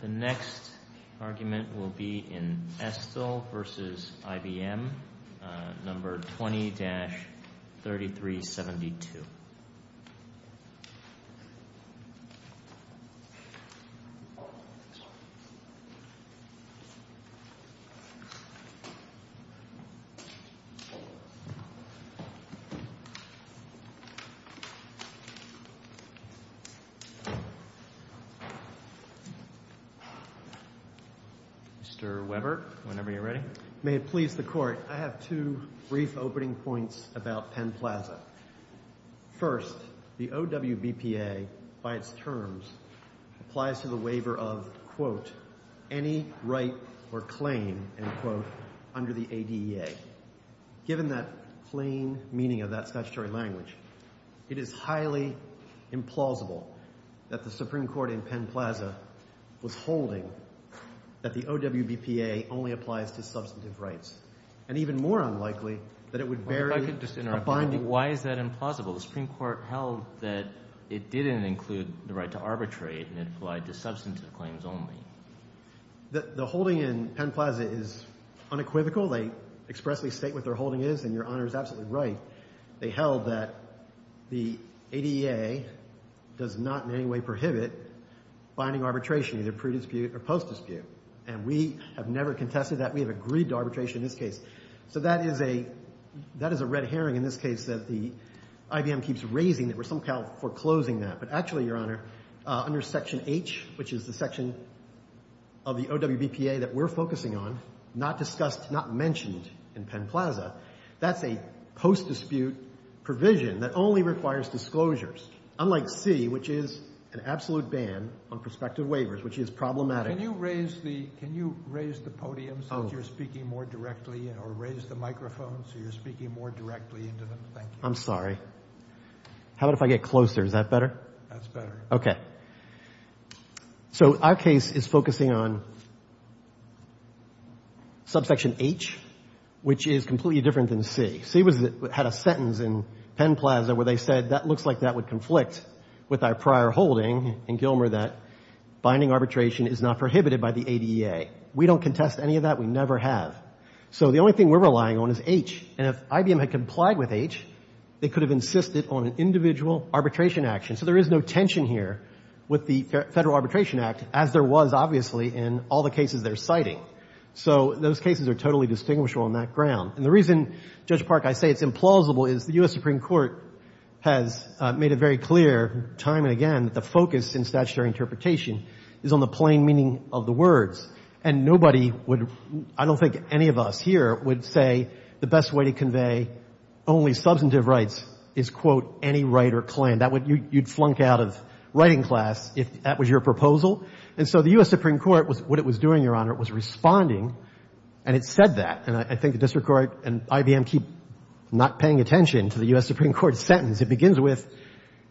The next argument will be in Estill v. IBM, No. 20-3372 Mr. Weber, whenever you're ready. May it please the Court, I have two brief opening points about Penn Plaza. First, the OWBPA, by its terms, applies to the waiver of, quote, any right or claim, end quote, under the ADEA. Given that plain meaning of that statutory language, it is highly implausible that the Supreme Court in Penn Plaza was holding that the OWBPA only applies to substantive rights. And even more unlikely that it would vary... Why is that implausible? The Supreme Court held that it didn't include the right to arbitrate and it applied to substantive claims only. The holding in Penn Plaza is unequivocal. They expressly state what their holding is, and Your Honor is absolutely right. They held that the ADEA does not in any way prohibit binding arbitration, either pre-dispute or post-dispute. And we have never contested that. We have agreed to arbitration in this case. So that is a red herring in this case that IBM keeps raising, that we're somehow foreclosing that. But actually, Your Honor, under Section H, which is the section of the OWBPA that we're focusing on, not discussed, not mentioned in Penn Plaza, that's a post-dispute provision that only requires disclosures, unlike C, which is an absolute ban on prospective waivers, which is problematic. Can you raise the podium so that you're speaking more directly, or raise the microphone so you're speaking more directly into them? Thank you. I'm sorry. How about if I get closer? Is that better? That's better. Okay. So our case is focusing on subsection H, which is completely different than C. C had a sentence in Penn Plaza where they said, that looks like that would conflict with our prior holding in Gilmer that binding arbitration is not prohibited by the ADEA. We don't contest any of that. We never have. So the only thing we're relying on is H. And if IBM had complied with H, they could have insisted on an individual arbitration action. So there is no tension here with the Federal Arbitration Act, as there was, obviously, in all the cases they're citing. So those cases are totally distinguishable on that ground. And the reason, Judge Park, I say it's implausible, is the U.S. Supreme Court has made it very clear time and again that the focus in statutory interpretation is on the plain meaning of the words. And nobody would, I don't think any of us here, would say the best way to convey only substantive rights is, quote, any right or claim. You'd flunk out of writing class if that was your proposal. And so the U.S. Supreme Court, what it was doing, Your Honor, was responding, and it said that. And I think the district court and IBM keep not paying attention to the U.S. Supreme Court sentence. It begins with,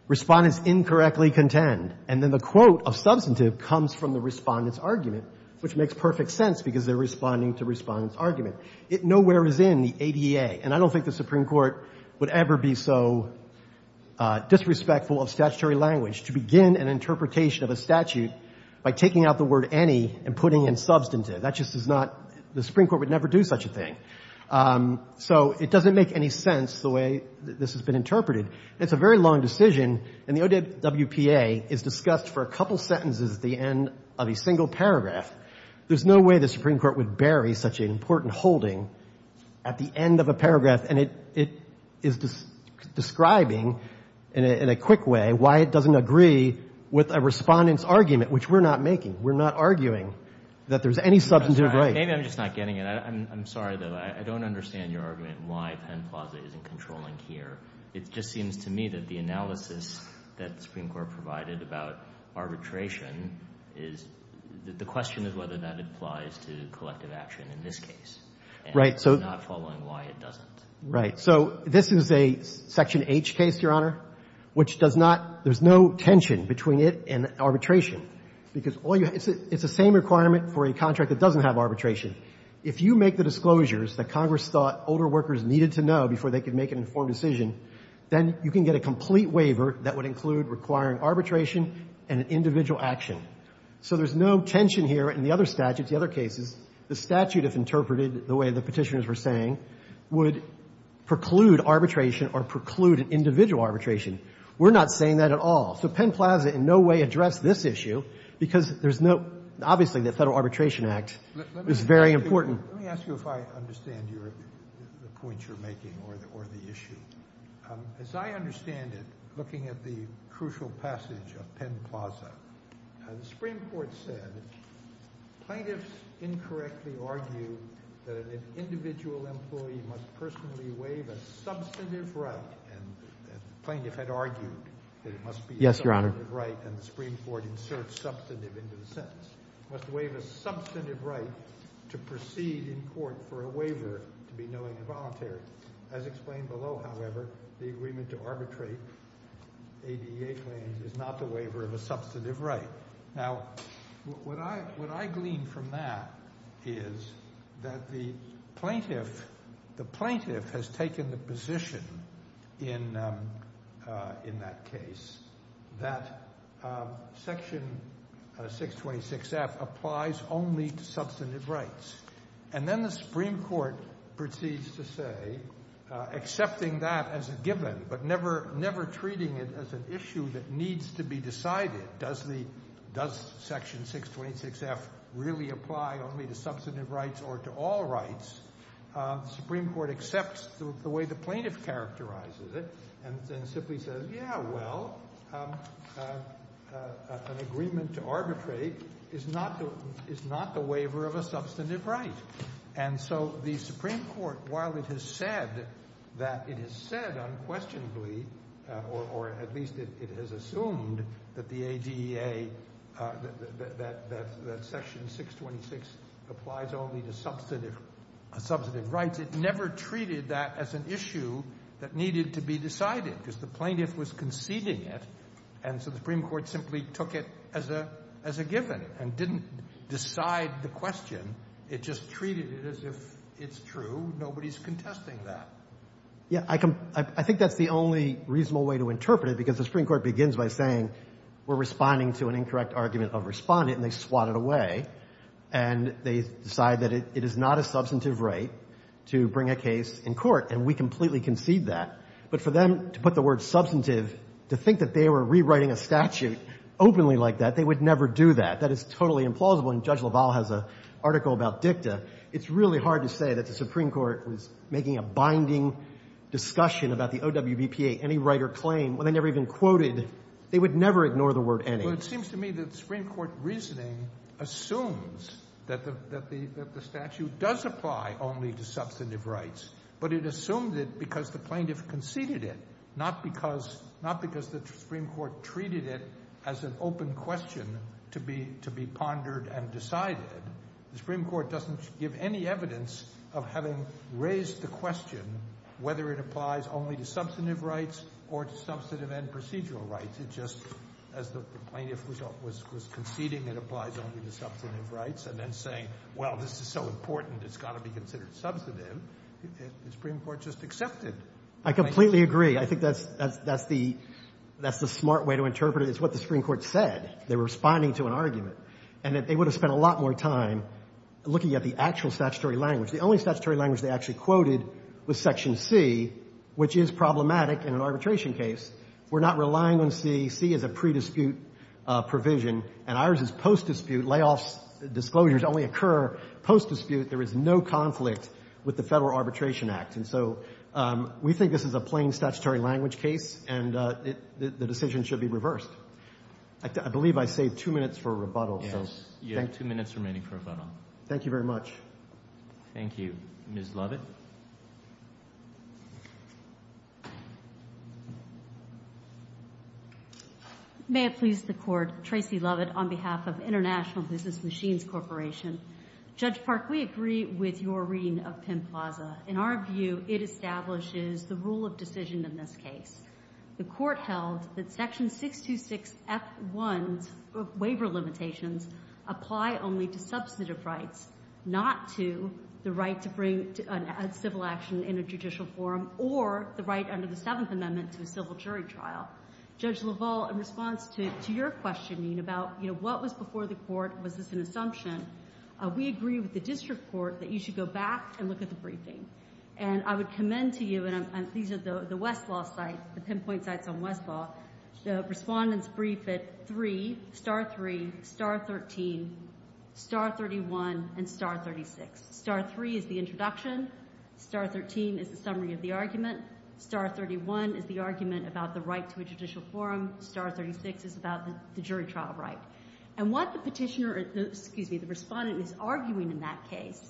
respondents incorrectly contend. And then the quote of substantive comes from the respondent's argument, which makes perfect sense because they're responding to respondent's argument. It nowhere is in the ADEA. And I don't think the Supreme Court would ever be so disrespectful of statutory language to begin an interpretation of a statute by taking out the word any and putting in substantive. That just is not, the Supreme Court would never do such a thing. So it doesn't make any sense the way this has been interpreted. It's a very long decision, and the OWPA is discussed for a couple sentences at the end of a single paragraph. There's no way the Supreme Court would bury such an important holding at the end of a paragraph. And it is describing in a quick way why it doesn't agree with a respondent's argument, which we're not making. We're not arguing that there's any substantive right. Maybe I'm just not getting it. I'm sorry, though. I don't understand your argument why Penn Plaza isn't controlling here. It just seems to me that the analysis that the Supreme Court provided about arbitration is, the question is whether that applies to collective action in this case. And I'm not following why it doesn't. Right. So this is a Section H case, Your Honor, which does not, there's no tension between it and arbitration, because all you have, it's the same requirement for a contract that doesn't have arbitration. If you make the disclosures that Congress thought older workers needed to know before they could make an informed decision, then you can get a complete waiver that would include requiring arbitration and an individual action. So there's no tension here in the other statutes, the other cases. The statute, if interpreted the way the petitioners were saying, would preclude arbitration or preclude individual arbitration. We're not saying that at all. So Penn Plaza in no way addressed this issue, because there's no, obviously, the Federal Arbitration Act is very important. Let me ask you if I understand the point you're making or the issue. As I understand it, looking at the crucial passage of Penn Plaza, the Supreme Court said plaintiffs incorrectly argue that an individual employee must personally waive a substantive right, and the plaintiff had argued that it must be a substantive right and the Supreme Court inserted substantive into the sentence, must waive a substantive right to proceed in court for a waiver to be knowing and voluntary. As explained below, however, the agreement to arbitrate ADA claims is not the waiver of a substantive right. Now, what I glean from that is that the plaintiff has taken the position in that case that Section 626F applies only to substantive rights, and then the Supreme Court proceeds to say, accepting that as a given but never treating it as an issue that needs to be decided, does Section 626F really apply only to substantive rights or to all rights, the Supreme Court accepts the way the plaintiff characterizes it and simply says, yeah, well, an agreement to arbitrate is not the waiver of a substantive right. And so the Supreme Court, while it has said that it has said unquestionably, or at least it has assumed that the ADA, that Section 626 applies only to substantive rights, it never treated that as an issue that needed to be decided because the plaintiff was conceding it and so the Supreme Court simply took it as a given and didn't decide the question, it just treated it as if it's true, nobody's contesting that. Yeah, I think that's the only reasonable way to interpret it because the Supreme Court begins by saying we're responding to an incorrect argument of respondent and they swat it away and they decide that it is not a substantive right to bring a case in court and we completely concede that, but for them to put the word substantive, to think that they were rewriting a statute openly like that, they would never do that, that is totally implausible and Judge LaValle has an article about dicta, it's really hard to say that the Supreme Court was making a binding discussion about the OWBPA, any right or claim, when they never even quoted, they would never ignore the word any. Well, it seems to me that Supreme Court reasoning assumes that the statute does apply only to substantive rights, but it assumed it because the plaintiff conceded it, not because the Supreme Court treated it as an open question to be pondered and decided. The Supreme Court doesn't give any evidence of having raised the question whether it applies only to substantive rights or to substantive and procedural rights. It just, as the plaintiff was conceding it applies only to substantive rights and then saying, well, this is so important, it's got to be considered substantive. The Supreme Court just accepted. I completely agree. I think that's the smart way to interpret it is what the Supreme Court said. They were responding to an argument and that they would have spent a lot more time looking at the actual statutory language. The only statutory language they actually quoted was Section C, which is problematic in an arbitration case. We're not relying on C. C is a pre-dispute provision and ours is post-dispute. Layoffs, disclosures only occur post-dispute. There is no conflict with the Federal Arbitration Act. And so we think this is a plain statutory language case and the decision should be reversed. I believe I saved two minutes for rebuttal. Yes, you have two minutes remaining for rebuttal. Thank you very much. Thank you. Ms. Lovett. May it please the Court. Tracy Lovett on behalf of International Business Machines Corporation. Judge Park, we agree with your reading of Penn Plaza. In our view, it establishes the rule of decision in this case. The Court held that Section 626F1's waiver limitations apply only to substantive rights, not to the right to bring a civil action in a judicial forum or the right under the Seventh Amendment to a civil jury trial. Judge LaValle, in response to your questioning about, you know, what was before the Court, was this an assumption, we agree with the district court that you should go back and look at the briefing. And I would commend to you, and these are the Westlaw site, the pinpoint sites on Westlaw, the respondent's brief at 3, star 3, star 13, star 31, and star 36. Star 3 is the introduction. Star 13 is the summary of the argument. Star 31 is the argument about the right to a judicial forum. Star 36 is about the jury trial right. And what the petitioner, excuse me, the respondent is arguing in that case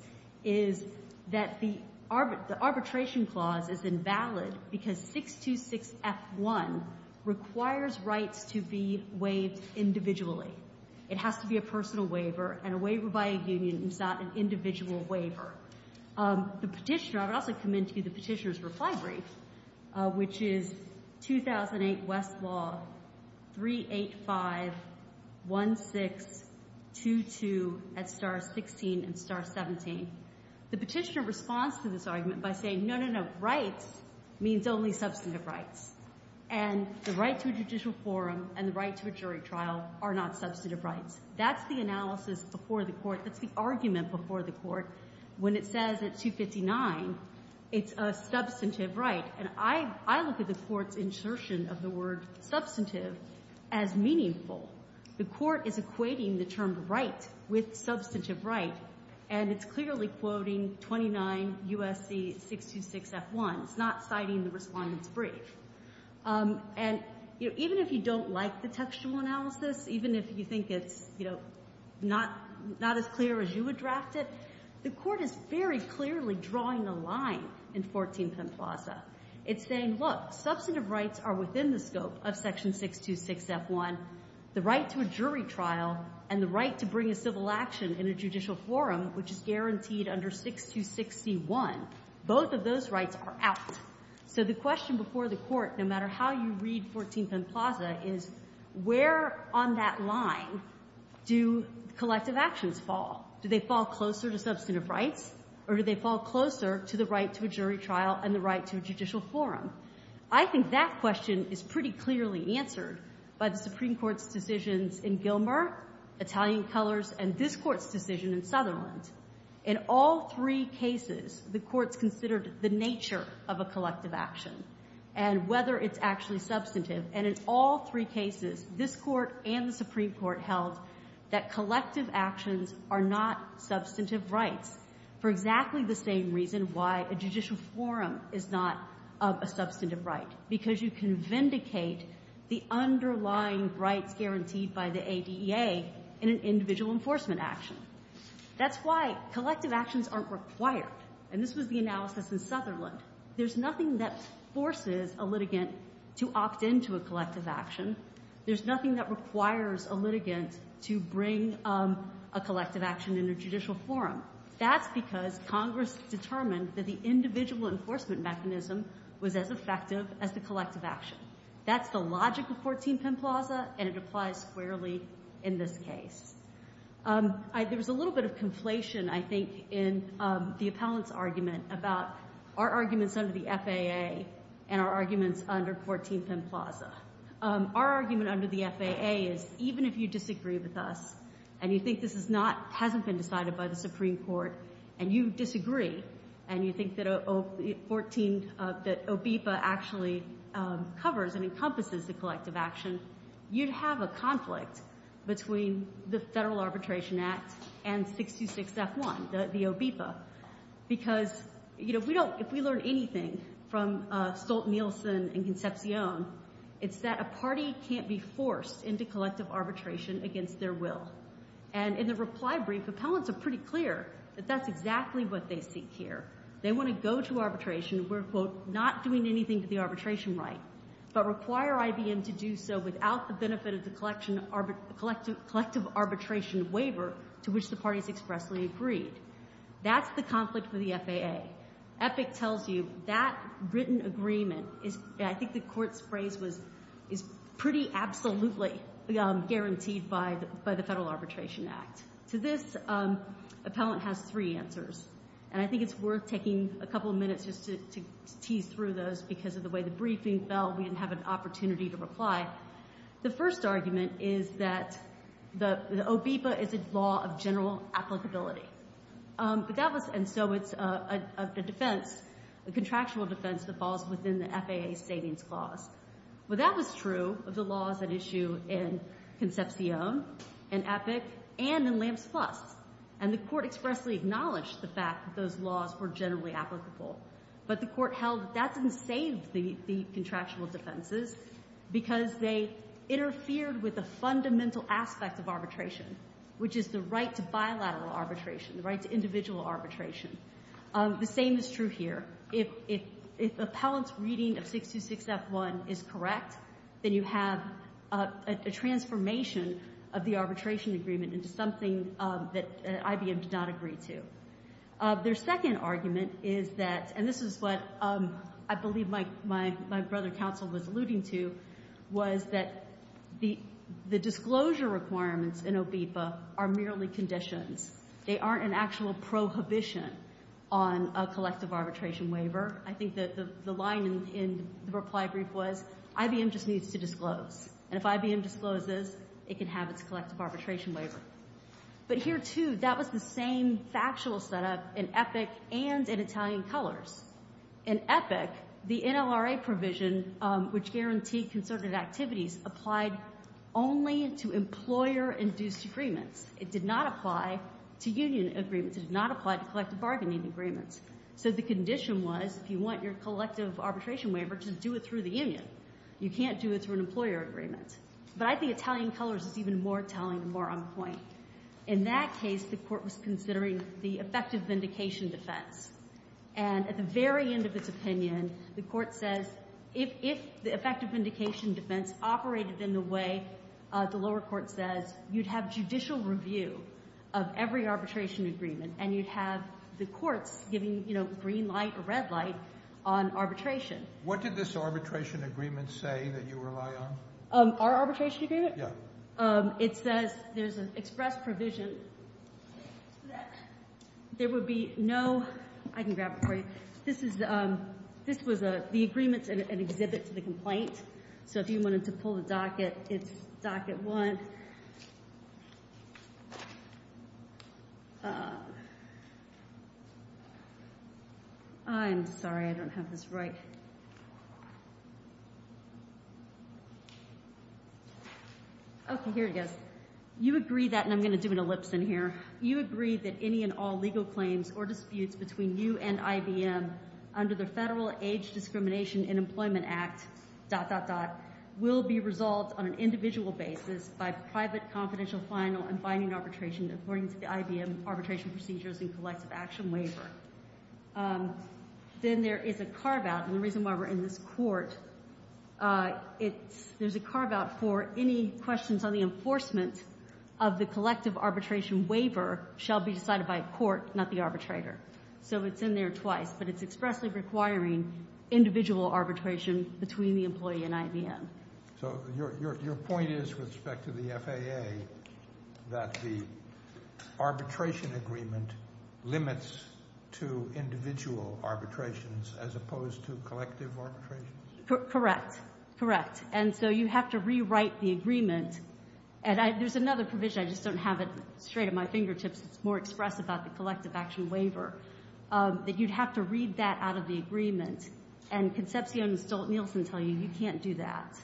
is that the arbitration clause is invalid because 626F1 requires rights to be waived individually. It has to be a personal waiver and a waiver by a union is not an individual waiver. The petitioner, I would also commend to you the petitioner's reply brief, which is 1622 at star 16 and star 17. The petitioner responds to this argument by saying, no, no, no, rights means only substantive rights. And the right to a judicial forum and the right to a jury trial are not substantive rights. That's the analysis before the Court. That's the argument before the Court when it says at 259 it's a substantive right. And I look at the Court's insertion of the word substantive as meaningful. The Court is equating the term right with substantive right, and it's clearly quoting 29 U.S.C. 626F1. It's not citing the respondent's brief. And, you know, even if you don't like the textual analysis, even if you think it's, you know, not as clear as you would draft it, the Court is very clearly drawing the line in 14 Pemplaza. It's saying, look, substantive rights are within the scope of section 626F1. The right to a jury trial and the right to bring a civil action in a judicial forum, which is guaranteed under 626C1, both of those rights are out. So the question before the Court, no matter how you read 14 Pemplaza, is where on that line do collective actions fall? Do they fall closer to substantive rights, or do they fall closer to the right to a jury trial and the right to a judicial forum? I think that question is pretty clearly answered by the Supreme Court's decisions in Gilmer, Italian colors, and this Court's decision in Sutherland. In all three cases, the Court's considered the nature of a collective action and whether it's actually substantive. And in all three cases, this Court and the Supreme Court held that collective actions are not substantive rights for exactly the same reason why a judicial forum is not a substantive right, because you can vindicate the underlying rights guaranteed by the ADEA in an individual enforcement action. That's why collective actions aren't required. And this was the analysis in Sutherland. There's nothing that forces a litigant to opt into a collective action. There's nothing that requires a litigant to bring a collective action in a judicial forum. That's because Congress determined that the individual enforcement mechanism was as effective as the collective action. That's the logic of 14 Penn Plaza, and it applies squarely in this case. There was a little bit of conflation, I think, in the appellant's argument about our arguments under the FAA and our arguments under 14 Penn Plaza. Our argument under the FAA is even if you disagree with us and you think this hasn't been decided by the Supreme Court and you disagree and you think that OBIPA actually covers and encompasses the collective action, you'd have a conflict between the Federal Arbitration Act and 626F1, the OBIPA. Because if we learn anything from Stolt-Nielsen and Concepcion, it's that a party can't be forced into collective arbitration against their will. And in the reply brief, appellants are pretty clear that that's exactly what they seek here. They want to go to arbitration. We're, quote, not doing anything to the arbitration right, but require IBM to do so without the benefit of the collective arbitration waiver to which the parties expressly agreed. That's the conflict with the FAA. Epic tells you that written agreement is, I think the court's phrase was pretty absolutely guaranteed by the Federal Arbitration Act. To this, appellant has three answers. And I think it's worth taking a couple of minutes just to tease through those because of the way the briefing fell. We didn't have an opportunity to reply. The first argument is that the OBIPA is a law of general applicability. And so it's a defense, a contractual defense that falls within the FAA Savings Clause. Well, that was true of the laws at issue in Concepcion and Epic and in Lambs Plus. And the court expressly acknowledged the fact that those laws were generally applicable. But the court held that that didn't save the contractual defenses because they interfered with a fundamental aspect of arbitration, which is the right to bilateral arbitration, the right to individual arbitration. The same is true here. If appellant's reading of 626F1 is correct, then you have a transformation of the arbitration agreement into something that IBM did not agree to. Their second argument is that, and this is what I believe my brother counsel was alluding to, was that the disclosure requirements in OBIPA are merely conditions. They aren't an actual prohibition on a collective arbitration waiver. I think the line in the reply brief was IBM just needs to disclose. And if IBM discloses, it can have its collective arbitration waiver. But here, too, that was the same factual setup in Epic and in Italian Colors. In Epic, the NLRA provision, which guaranteed concerted activities, applied only to employer-induced agreements. It did not apply to union agreements. It did not apply to collective bargaining agreements. So the condition was, if you want your collective arbitration waiver, just do it through the union. You can't do it through an employer agreement. But I think Italian Colors is even more telling and more on point. In that case, the Court was considering the effective vindication defense. And at the very end of its opinion, the Court says, if the effective vindication defense operated in the way the lower court says, you'd have judicial review of every arbitration agreement. And you'd have the courts giving green light or red light on arbitration. What did this arbitration agreement say that you rely on? Our arbitration agreement? Yeah. It says there's an express provision that there would be no – I can grab it for you. This was the agreement and exhibit to the complaint. So if you wanted to pull the docket, it's docket one. I'm sorry. I don't have this right. Okay. Here it goes. You agree that – and I'm going to do an ellipse in here. You agree that any and all legal claims or disputes between you and IBM under the Federal Age Discrimination in Employment Act, dot, dot, dot, will be resolved on an individual basis by private confidential final and binding arbitration according to the IBM arbitration procedures and collective action waiver. Then there is a carve-out. And the reason why we're in this court, it's – there's a carve-out for any questions on the enforcement of the collective arbitration waiver shall be decided by court, not the arbitrator. So it's in there twice. But it's expressly requiring individual arbitration between the employee and IBM. So your point is with respect to the FAA that the arbitration agreement limits to individual arbitrations as opposed to collective arbitrations? Correct. Correct. And so you have to rewrite the agreement. And there's another provision. I just don't have it straight at my fingertips. It's more express about the collective action waiver. That you'd have to read that out of the agreement. And Concepcion and Stolt-Nielsen tell you you can't do that.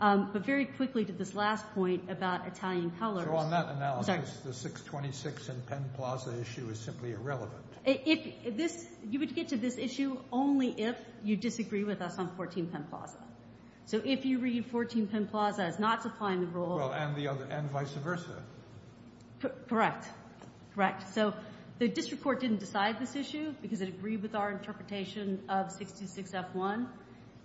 But very quickly to this last point about Italian colors. So on that analysis, the 626 in Penn Plaza issue is simply irrelevant. If this – you would get to this issue only if you disagree with us on 14 Penn Plaza. So if you read 14 Penn Plaza as not supplying the role. Well, and the other – and vice versa. Correct. Correct. So the district court didn't decide this issue because it agreed with our interpretation of 626F1.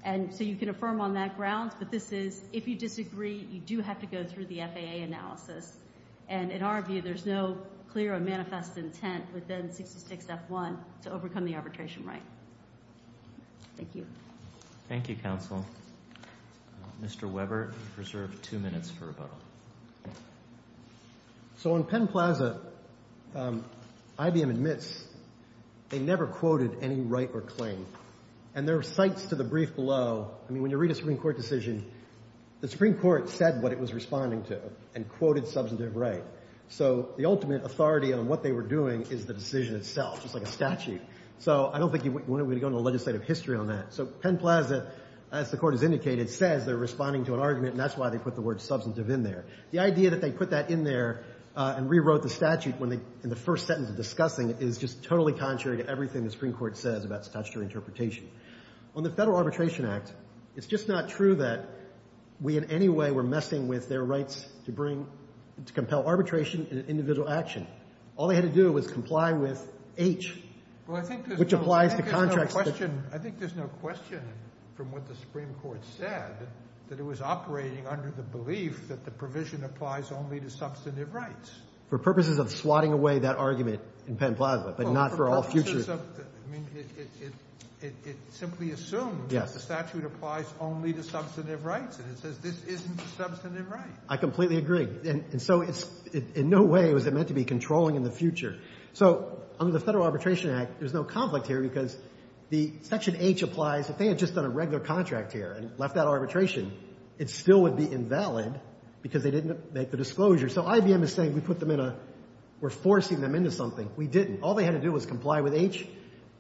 And so you can affirm on that grounds. But this is if you disagree, you do have to go through the FAA analysis. And in our view, there's no clear or manifest intent within 626F1 to overcome the arbitration right. Thank you. Thank you, counsel. Mr. Weber, you're reserved two minutes for rebuttal. So on Penn Plaza, IBM admits they never quoted any right or claim. And there are sites to the brief below. I mean, when you read a Supreme Court decision, the Supreme Court said what it was responding to and quoted substantive right. So the ultimate authority on what they were doing is the decision itself, just like a statute. So I don't think you want to go into legislative history on that. So Penn Plaza, as the court has indicated, says they're responding to an argument, and that's why they put the word substantive in there. The idea that they put that in there and rewrote the statute in the first sentence of discussing it is just totally contrary to everything the Supreme Court says about statutory interpretation. On the Federal Arbitration Act, it's just not true that we in any way were messing with their rights to bring – to compel arbitration in an individual action. All they had to do was comply with H, which applies to contracts. I think there's no question from what the Supreme Court said that it was operating under the belief that the provision applies only to substantive rights. For purposes of swatting away that argument in Penn Plaza, but not for all future – I mean, it simply assumes that the statute applies only to substantive rights, and it says this isn't a substantive right. I completely agree. And so it's – in no way was it meant to be controlling in the future. So under the Federal Arbitration Act, there's no conflict here because the Section H applies. If they had just done a regular contract here and left that arbitration, it still would be invalid because they didn't make the disclosure. So IBM is saying we put them in a – we're forcing them into something. We didn't. All they had to do was comply with H,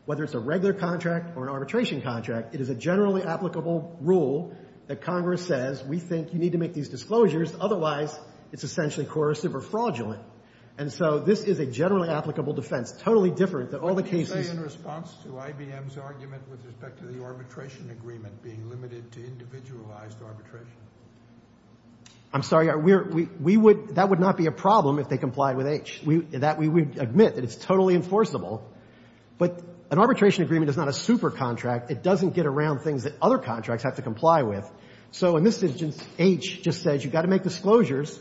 whether it's a regular contract or an arbitration contract. It is a generally applicable rule that Congress says we think you need to make these disclosures, otherwise it's essentially coercive or fraudulent. And so this is a generally applicable defense, totally different than all the cases – Can you say in response to IBM's argument with respect to the arbitration agreement being limited to individualized arbitration? I'm sorry. We're – we would – that would not be a problem if they complied with H. That we would admit, that it's totally enforceable. But an arbitration agreement is not a supercontract. It doesn't get around things that other contracts have to comply with. So in this instance, H just says you've got to make disclosures,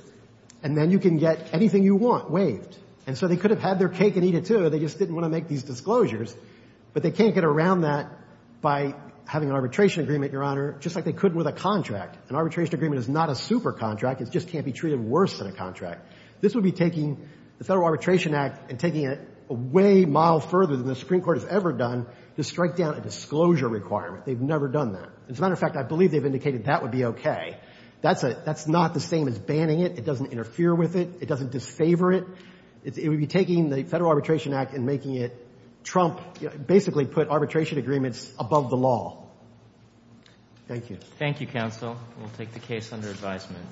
and then you can get anything you want waived. And so they could have had their cake and eat it, too. They just didn't want to make these disclosures. But they can't get around that by having an arbitration agreement, Your Honor, just like they could with a contract. An arbitration agreement is not a supercontract. It just can't be treated worse than a contract. This would be taking the Federal Arbitration Act and taking it a way mile further than the Supreme Court has ever done to strike down a disclosure requirement. They've never done that. As a matter of fact, I believe they've indicated that would be okay. That's not the same as banning it. It doesn't interfere with it. It doesn't disfavor it. It would be taking the Federal Arbitration Act and making it – Trump basically put arbitration agreements above the law. Thank you. Thank you, counsel. We'll take the case under advisement.